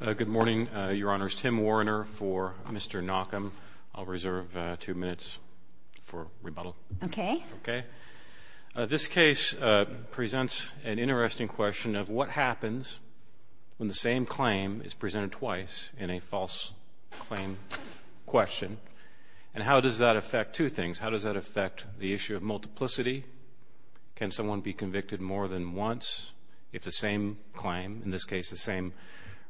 Good morning, Your Honors. Tim Warner for Mr. Knockum. I'll reserve two minutes for rebuttal. Okay. Okay. This case presents an interesting question of what happens when the same claim is presented twice in a false claim question, and how does that affect two things. How does that affect the issue of multiplicity? Can someone be convicted more than once if the same claim, in this case the same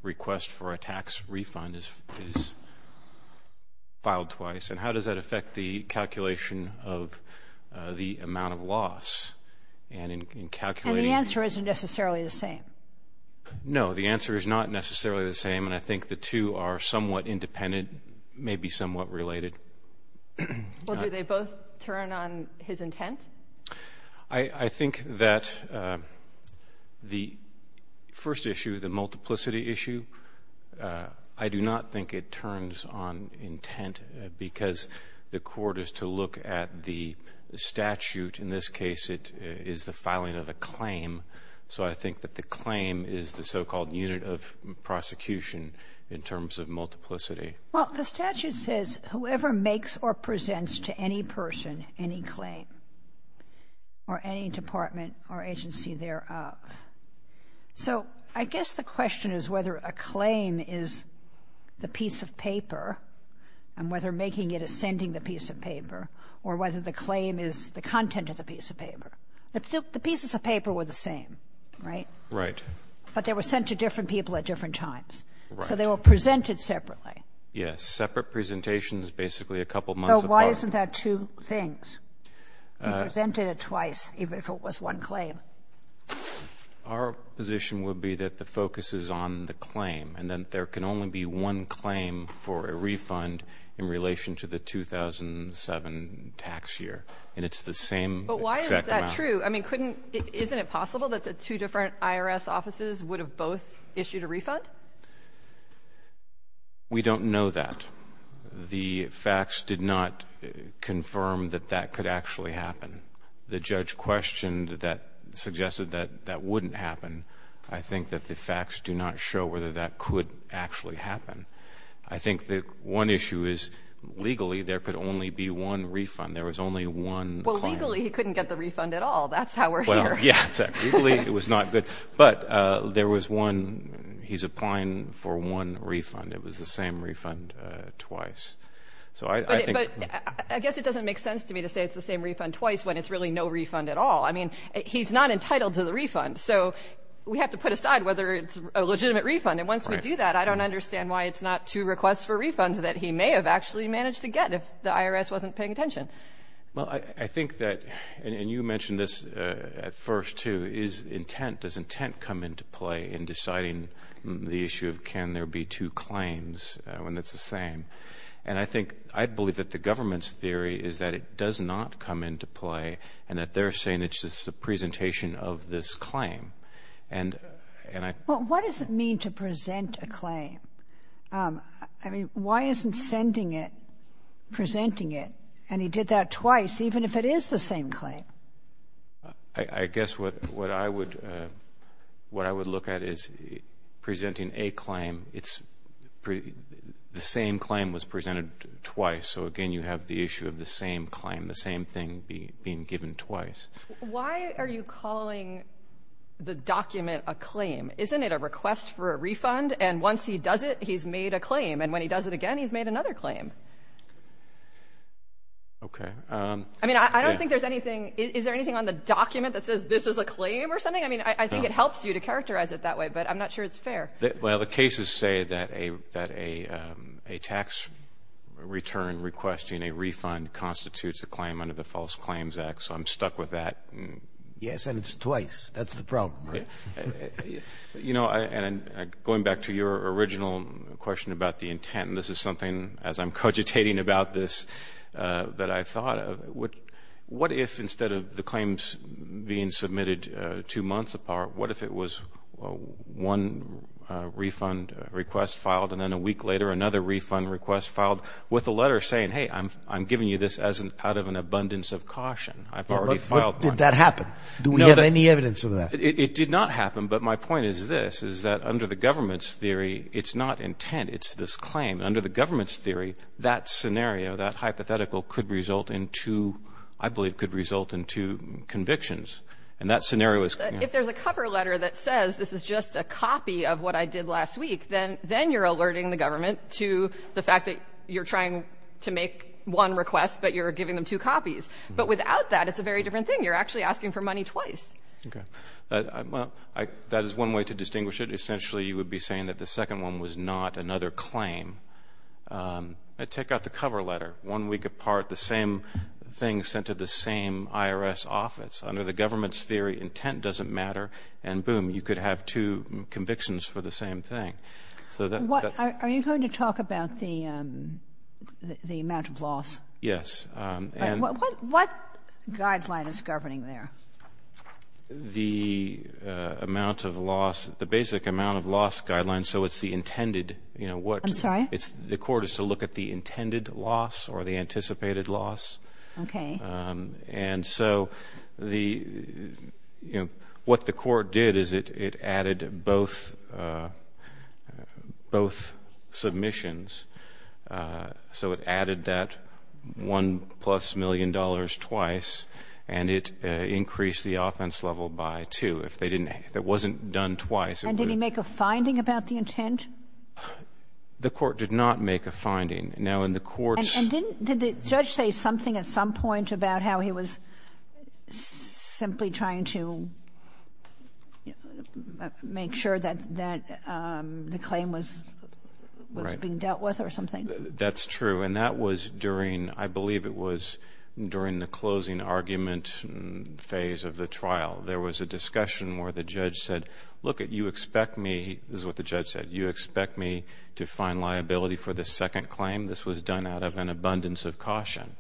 request for a tax refund, is filed twice? And how does that affect the calculation of the amount of loss? And the answer isn't necessarily the same. No, the answer is not necessarily the same, and I think the two are somewhat independent, maybe somewhat related. Well, do they both turn on his intent? I think that the first issue, the multiplicity issue, I do not think it turns on intent because the court is to look at the statute. In this case, it is the filing of a claim, so I think that the claim is the so-called unit of prosecution in terms of multiplicity. Well, the statute says whoever makes or presents to any person any claim or any department or agency thereof. So I guess the question is whether a claim is the piece of paper and whether making it is sending the piece of paper or whether the claim is the content of the piece of paper. The pieces of paper were the same, right? Right. But they were sent to different people at different times. Right. So they were presented separately. Yes. Separate presentations basically a couple months apart. So why isn't that two things? He presented it twice, even if it was one claim. Our position would be that the focus is on the claim and that there can only be one claim for a refund in relation to the 2007 tax year. And it's the same exact amount. But why is that true? I mean, couldn't — isn't it possible that the two different IRS offices would have both issued a refund? We don't know that. The facts did not confirm that that could actually happen. The judge questioned that, suggested that that wouldn't happen. I think that the facts do not show whether that could actually happen. I think that one issue is legally there could only be one refund. There was only one claim. Well, legally he couldn't get the refund at all. That's how we're here. Well, yes. Legally it was not good. But there was one — he's applying for one refund. It was the same refund twice. So I think — But I guess it doesn't make sense to me to say it's the same refund twice when it's really no refund at all. I mean, he's not entitled to the refund. So we have to put aside whether it's a legitimate refund. And once we do that, I don't understand why it's not two requests for refunds that he may have actually managed to get if the IRS wasn't paying attention. Well, I think that — and you mentioned this at first, too. Is intent — does intent come into play in deciding the issue of can there be two claims when it's the same? And I think — I believe that the government's theory is that it does not come into play and that they're saying it's just a presentation of this claim. And I — Well, what does it mean to present a claim? I mean, why isn't sending it, presenting it? And he did that twice, even if it is the same claim. I guess what I would look at is presenting a claim, it's — the same claim was presented twice. So, again, you have the issue of the same claim, the same thing being given twice. Why are you calling the document a claim? Isn't it a request for a refund? And once he does it, he's made a claim. And when he does it again, he's made another claim. Okay. I mean, I don't think there's anything — is there anything on the document that says this is a claim or something? I mean, I think it helps you to characterize it that way, but I'm not sure it's fair. Well, the cases say that a tax return requesting a refund constitutes a claim under the False Claims Act. So I'm stuck with that. Yes, and it's twice. That's the problem, right? You know, and going back to your original question about the intent, and this is something, as I'm cogitating about this, that I thought of, what if instead of the claims being submitted two months apart, what if it was one refund request filed and then a week later another refund request filed with a letter saying, Did that happen? Do we have any evidence of that? It did not happen. But my point is this, is that under the government's theory, it's not intent. It's this claim. Under the government's theory, that scenario, that hypothetical could result in two — I believe could result in two convictions. And that scenario is — If there's a cover letter that says this is just a copy of what I did last week, then you're alerting the government to the fact that you're trying to make one request, but you're giving them two copies. But without that, it's a very different thing. You're actually asking for money twice. Okay. Well, that is one way to distinguish it. Essentially, you would be saying that the second one was not another claim. Take out the cover letter. One week apart, the same thing sent to the same IRS office. Under the government's theory, intent doesn't matter, and boom, you could have two convictions for the same thing. Are you going to talk about the amount of loss? Yes. What guideline is governing there? The amount of loss, the basic amount of loss guideline, so it's the intended. I'm sorry? The court is to look at the intended loss or the anticipated loss. Okay. And so what the court did is it added both submissions. So it added that one plus million dollars twice, and it increased the offense level by two if it wasn't done twice. And did he make a finding about the intent? The court did not make a finding. Now, in the court's ---- And did the judge say something at some point about how he was simply trying to make sure that the claim was being dealt with or something? That's true. And that was during, I believe it was during the closing argument phase of the trial. There was a discussion where the judge said, look, you expect me, this is what the judge said, you expect me to find liability for this second claim? This was done out of an abundance of caution.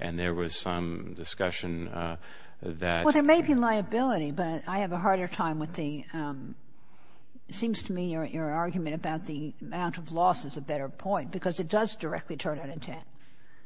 And there was some discussion that ---- But I have a harder time with the ---- It seems to me your argument about the amount of loss is a better point because it does directly turn on intent.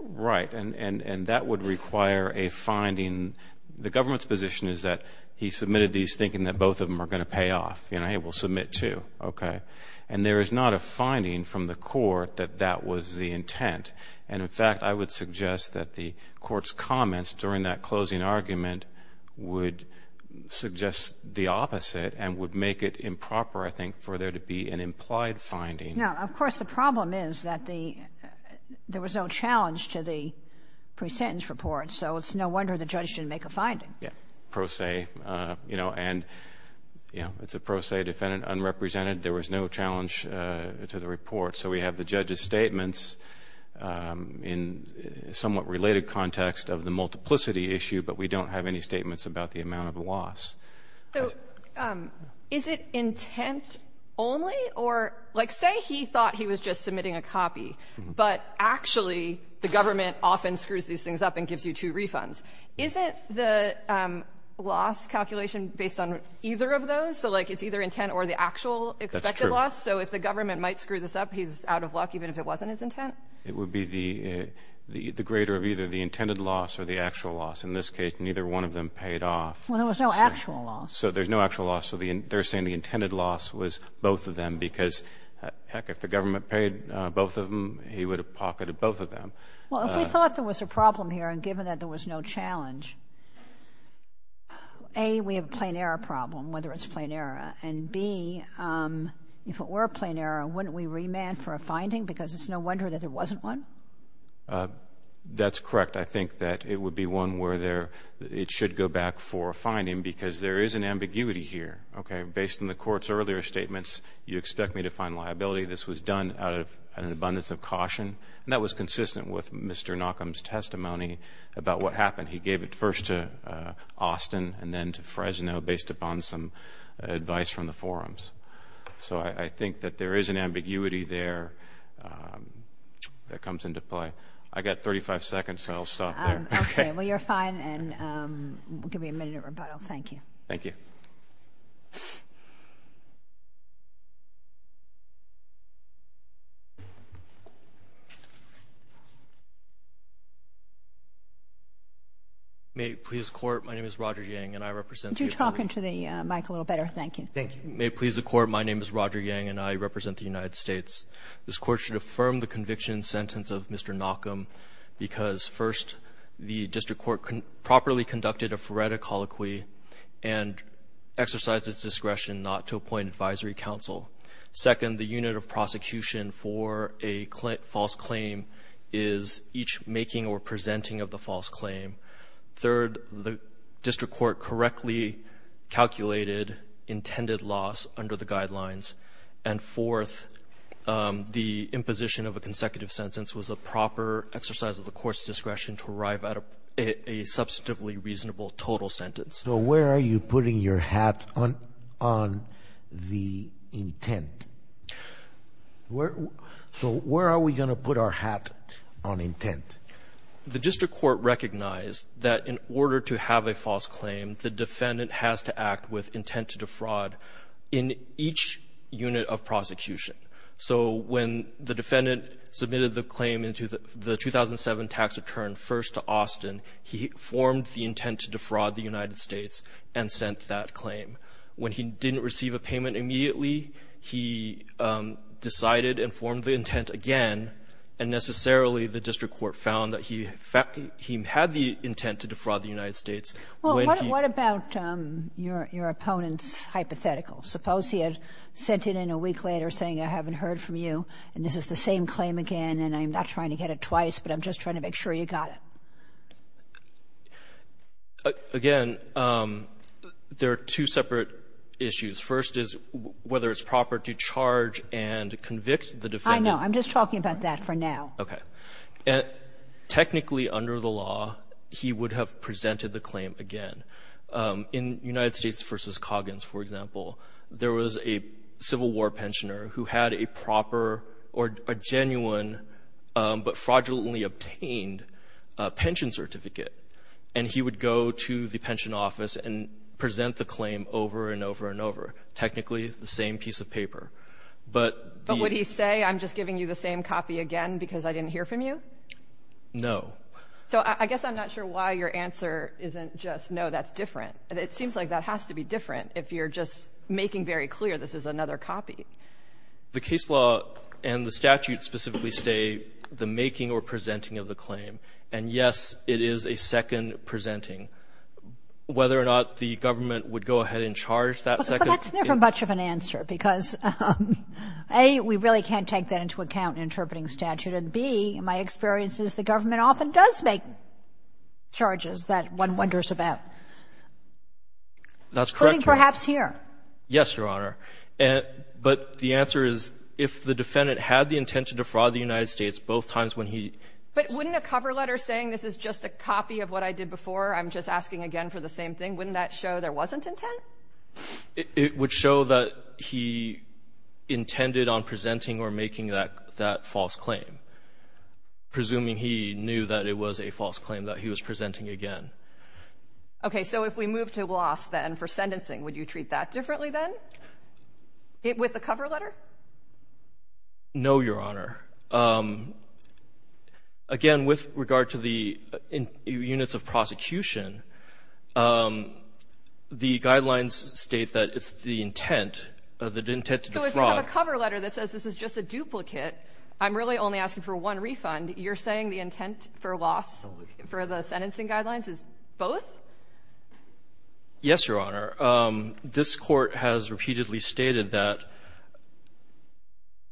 Right. And that would require a finding. The government's position is that he submitted these thinking that both of them are going to pay off. You know, hey, we'll submit two. Okay. And there is not a finding from the court that that was the intent. And, in fact, I would suggest that the court's comments during that closing argument would suggest the opposite and would make it improper, I think, for there to be an implied finding. Now, of course, the problem is that there was no challenge to the pre-sentence report. So it's no wonder the judge didn't make a finding. Yeah. Pro se, you know, and, you know, it's a pro se defendant, unrepresented. There was no challenge to the report. So we have the judge's statements in somewhat related context of the multiplicity issue, but we don't have any statements about the amount of loss. So is it intent only or, like, say he thought he was just submitting a copy, but actually the government often screws these things up and gives you two refunds. Isn't the loss calculation based on either of those? So, like, it's either intent or the actual expected loss. That's true. So if the government might screw this up, he's out of luck even if it wasn't his intent? It would be the greater of either the intended loss or the actual loss. In this case, neither one of them paid off. Well, there was no actual loss. So there's no actual loss. So they're saying the intended loss was both of them because, heck, if the government paid both of them, he would have pocketed both of them. Well, if we thought there was a problem here and given that there was no challenge, A, we have a plain error problem, whether it's plain error, and, B, if it were a plain error, wouldn't we remand for a finding because it's no wonder that there wasn't one? That's correct. I think that it would be one where it should go back for a finding because there is an ambiguity here. Okay. Based on the Court's earlier statements, you expect me to find liability. This was done out of an abundance of caution, and that was consistent with Mr. Knockham's testimony about what happened. He gave it first to Austin and then to Fresno based upon some advice from the forums. So I think that there is an ambiguity there that comes into play. I've got 35 seconds, so I'll stop there. Okay. Well, you're fine, and we'll give you a minute of rebuttal. Thank you. Thank you. May it please the Court, my name is Roger Yang, and I represent the United States. Could you talk into the mic a little better? Thank you. Thank you. May it please the Court, my name is Roger Yang, and I represent the United States. This Court should affirm the conviction sentence of Mr. Knockham because, first, the district court properly conducted a forensic colloquy and exercised its discretion not to appoint advisory counsel. Second, the unit of prosecution for a false claim is each making or presenting of the false claim. Third, the district court correctly calculated intended loss under the guidelines. And fourth, the imposition of a consecutive sentence was a proper exercise of the court's discretion to arrive at a substantively reasonable total sentence. So where are you putting your hat on the intent? So where are we going to put our hat on intent? The district court recognized that in order to have a false claim, the defendant has to act with intent to defraud in each unit of prosecution. So when the defendant submitted the claim into the 2007 tax return first to Austin, he formed the intent to defraud the United States and sent that claim. When he didn't receive a payment immediately, he decided and formed the intent again, and necessarily the district court found that he had the intent to defraud the United States. When he -- Well, what about your opponent's hypothetical? Suppose he had sent it in a week later saying, I haven't heard from you, and this is the same claim again, and I'm not trying to get it twice, but I'm just trying to make sure you got it. Again, there are two separate issues. First is whether it's proper to charge and convict the defendant. I don't know. I'm just talking about that for now. Okay. Technically, under the law, he would have presented the claim again. In United States v. Coggins, for example, there was a Civil War pensioner who had a proper or a genuine but fraudulently obtained pension certificate, and he would go to the pension office and present the claim over and over and over, technically the same piece of paper. But the ---- But would he say, I'm just giving you the same copy again because I didn't hear from you? No. So I guess I'm not sure why your answer isn't just, no, that's different. It seems like that has to be different if you're just making very clear this is another copy. The case law and the statute specifically state the making or presenting of the claim. And, yes, it is a second presenting. Whether or not the government would go ahead and charge that second ---- Well, that's never much of an answer because, A, we really can't take that into account in interpreting statute, and, B, my experience is the government often does make charges that one wonders about. That's correct, Your Honor. Including perhaps here. Yes, Your Honor. But the answer is if the defendant had the intent to defraud the United States both times when he ---- But wouldn't a cover letter saying this is just a copy of what I did before, I'm just asking again for the same thing, wouldn't that show there wasn't intent? It would show that he intended on presenting or making that false claim, presuming he knew that it was a false claim that he was presenting again. Okay. So if we move to loss, then, for sentencing, would you treat that differently then with a cover letter? No, Your Honor. Again, with regard to the units of prosecution, the guidelines state that it's the intent, the intent to defraud. So if we have a cover letter that says this is just a duplicate, I'm really only asking for one refund, you're saying the intent for loss for the sentencing guidelines is both? Yes, Your Honor. This Court has repeatedly stated that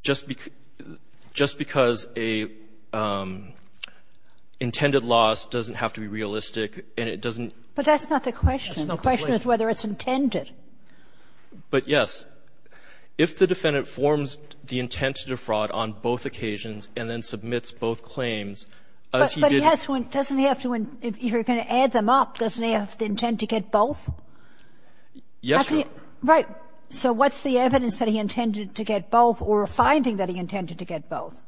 just because a intended loss doesn't have to be realistic and it doesn't ---- But that's not the question. The question is whether it's intended. But, yes. If the defendant forms the intent to defraud on both occasions and then submits both claims, as he did ---- Yes, Your Honor. Right. So what's the evidence that he intended to get both or a finding that he intended to get both?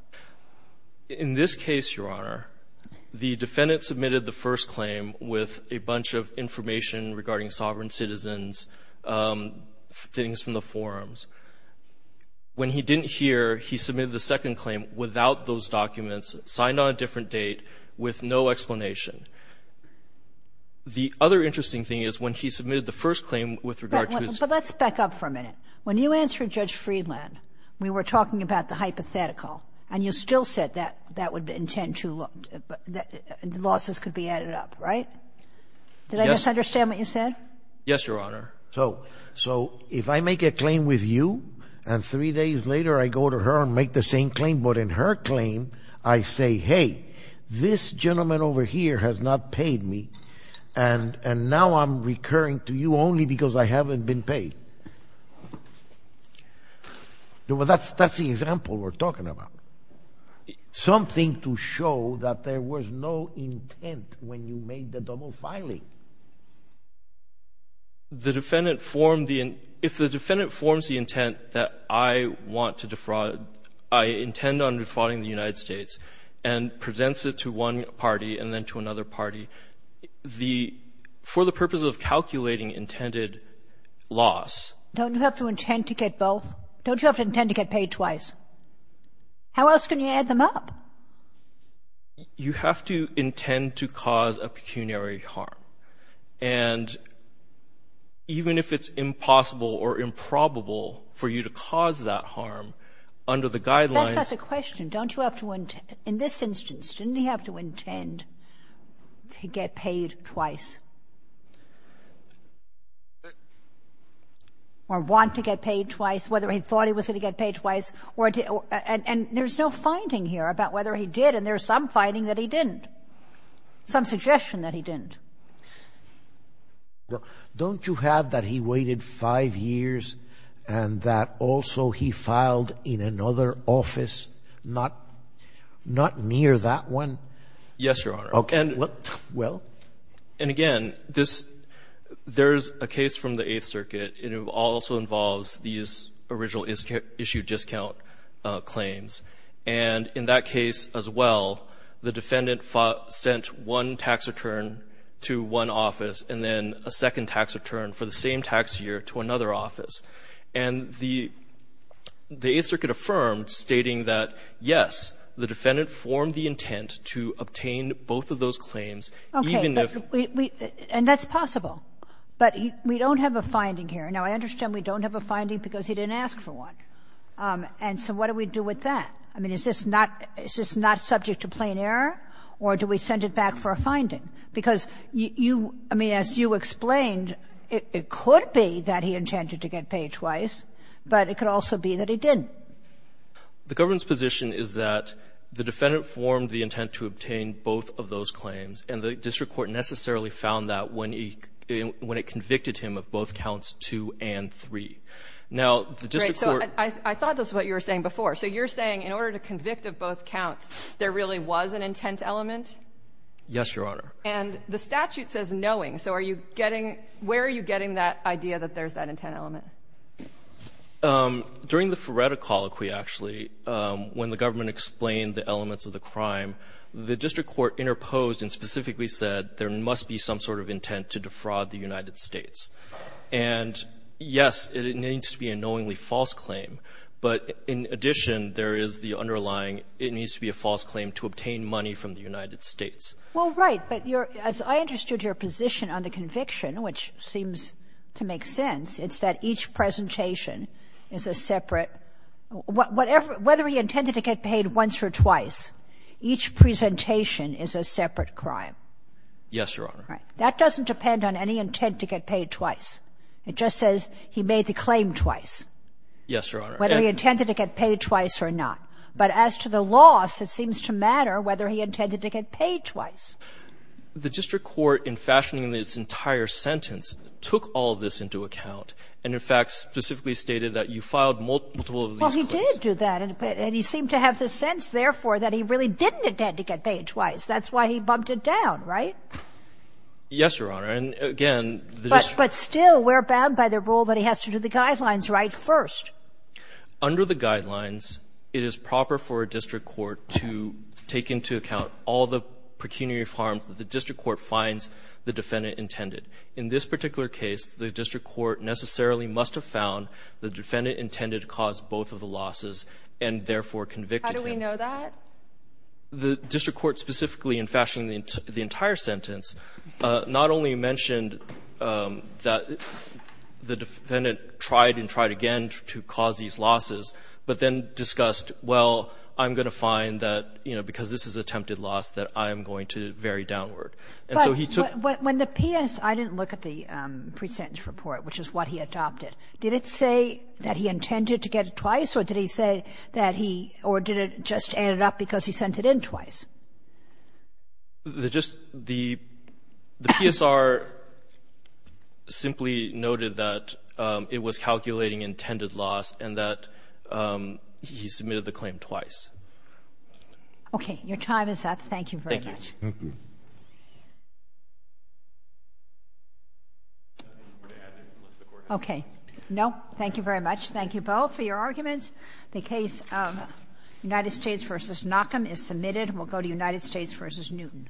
In this case, Your Honor, the defendant submitted the first claim with a bunch of information regarding sovereign citizens, things from the forums. When he didn't hear, he submitted the second claim without those documents, signed on a different date with no explanation. The other interesting thing is when he submitted the first claim with regard to his ---- But let's back up for a minute. When you answered Judge Friedland, we were talking about the hypothetical, and you still said that that would intend to ---- losses could be added up, right? Yes. Did I misunderstand what you said? Yes, Your Honor. So if I make a claim with you and three days later I go to her and make the same claim, I say, hey, this gentleman over here has not paid me and now I'm recurring to you only because I haven't been paid. That's the example we're talking about, something to show that there was no intent when you made the double filing. The defendant formed the ---- If the defendant forms the intent that I want to defraud you, I intend on defrauding the United States, and presents it to one party and then to another party, the ---- for the purpose of calculating intended loss ---- Don't you have to intend to get both? Don't you have to intend to get paid twice? How else can you add them up? You have to intend to cause a pecuniary harm. And even if it's impossible or improbable for you to cause that harm, under the guidelines ---- That's not the question. Don't you have to ---- In this instance, didn't he have to intend to get paid twice or want to get paid twice, whether he thought he was going to get paid twice? And there's no finding here about whether he did, and there's some finding that he didn't, some suggestion that he didn't. Don't you have that he waited 5 years and that also he filed in another office, not near that one? Yes, Your Honor. Okay. Well? And again, this ---- there's a case from the Eighth Circuit, and it also involves these original issue discount claims. And in that case as well, the defendant sent one tax return to one office and then a second tax return for the same tax year to another office. And the Eighth Circuit affirmed, stating that, yes, the defendant formed the intent to obtain both of those claims even if ---- Okay. And that's possible. But we don't have a finding here. Now, I understand we don't have a finding because he didn't ask for one. And so what do we do with that? I mean, is this not ---- is this not subject to plain error, or do we send it back for a finding? Because you ---- I mean, as you explained, it could be that he intended to get paid twice, but it could also be that he didn't. The government's position is that the defendant formed the intent to obtain both of those claims, and the district court necessarily found that when it convicted him of both counts 2 and 3. Now, the district court ---- So I thought this is what you were saying before. So you're saying in order to convict of both counts, there really was an intent element? Yes, Your Honor. And the statute says knowing. So are you getting ---- where are you getting that idea that there's that intent element? During the Ferretta colloquy, actually, when the government explained the elements of the crime, the district court interposed and specifically said there must be some sort of intent to defraud the United States. And, yes, it needs to be a knowingly false claim, but in addition, there is the underlying ---- it needs to be a false claim to obtain money from the United States. Well, right. But your ---- as I understood your position on the conviction, which seems to make sense, it's that each presentation is a separate ---- whatever ---- whether he intended to get paid once or twice, each presentation is a separate crime. Yes, Your Honor. Right. That doesn't depend on any intent to get paid twice. It just says he made the claim twice. Yes, Your Honor. Whether he intended to get paid twice or not. But as to the loss, it seems to matter whether he intended to get paid twice. The district court, in fashioning this entire sentence, took all of this into account and, in fact, specifically stated that you filed multiple of these claims. Well, he did do that, and he seemed to have the sense, therefore, that he really didn't intend to get paid twice. That's why he bumped it down, right? Yes, Your Honor. And, again, the district ---- But still, we're bound by the rule that he has to do the guidelines right first. Under the guidelines, it is proper for a district court to take into account all the pecuniary harms that the district court finds the defendant intended. In this particular case, the district court necessarily must have found the defendant intended to cause both of the losses and, therefore, convicted him. How do we know that? The district court specifically, in fashioning the entire sentence, not only mentioned that the defendant tried and tried again to cause these losses, but then discussed, well, I'm going to find that, you know, because this is attempted loss, that I am going to vary downward. And so he took ---- But when the PS ---- I didn't look at the presentence report, which is what he adopted. Did it say that he intended to get it twice, or did he say that he ---- or did it just add it up because he sent it in twice? The just ---- the PSR simply noted that it was calculating intended loss and that he submitted the claim twice. Okay. Thank you very much. Thank you. Thank you. Okay. No. Thank you very much. Thank you both for your arguments. The case of United States v. Knockham is submitted. We'll go to United States v. Newton.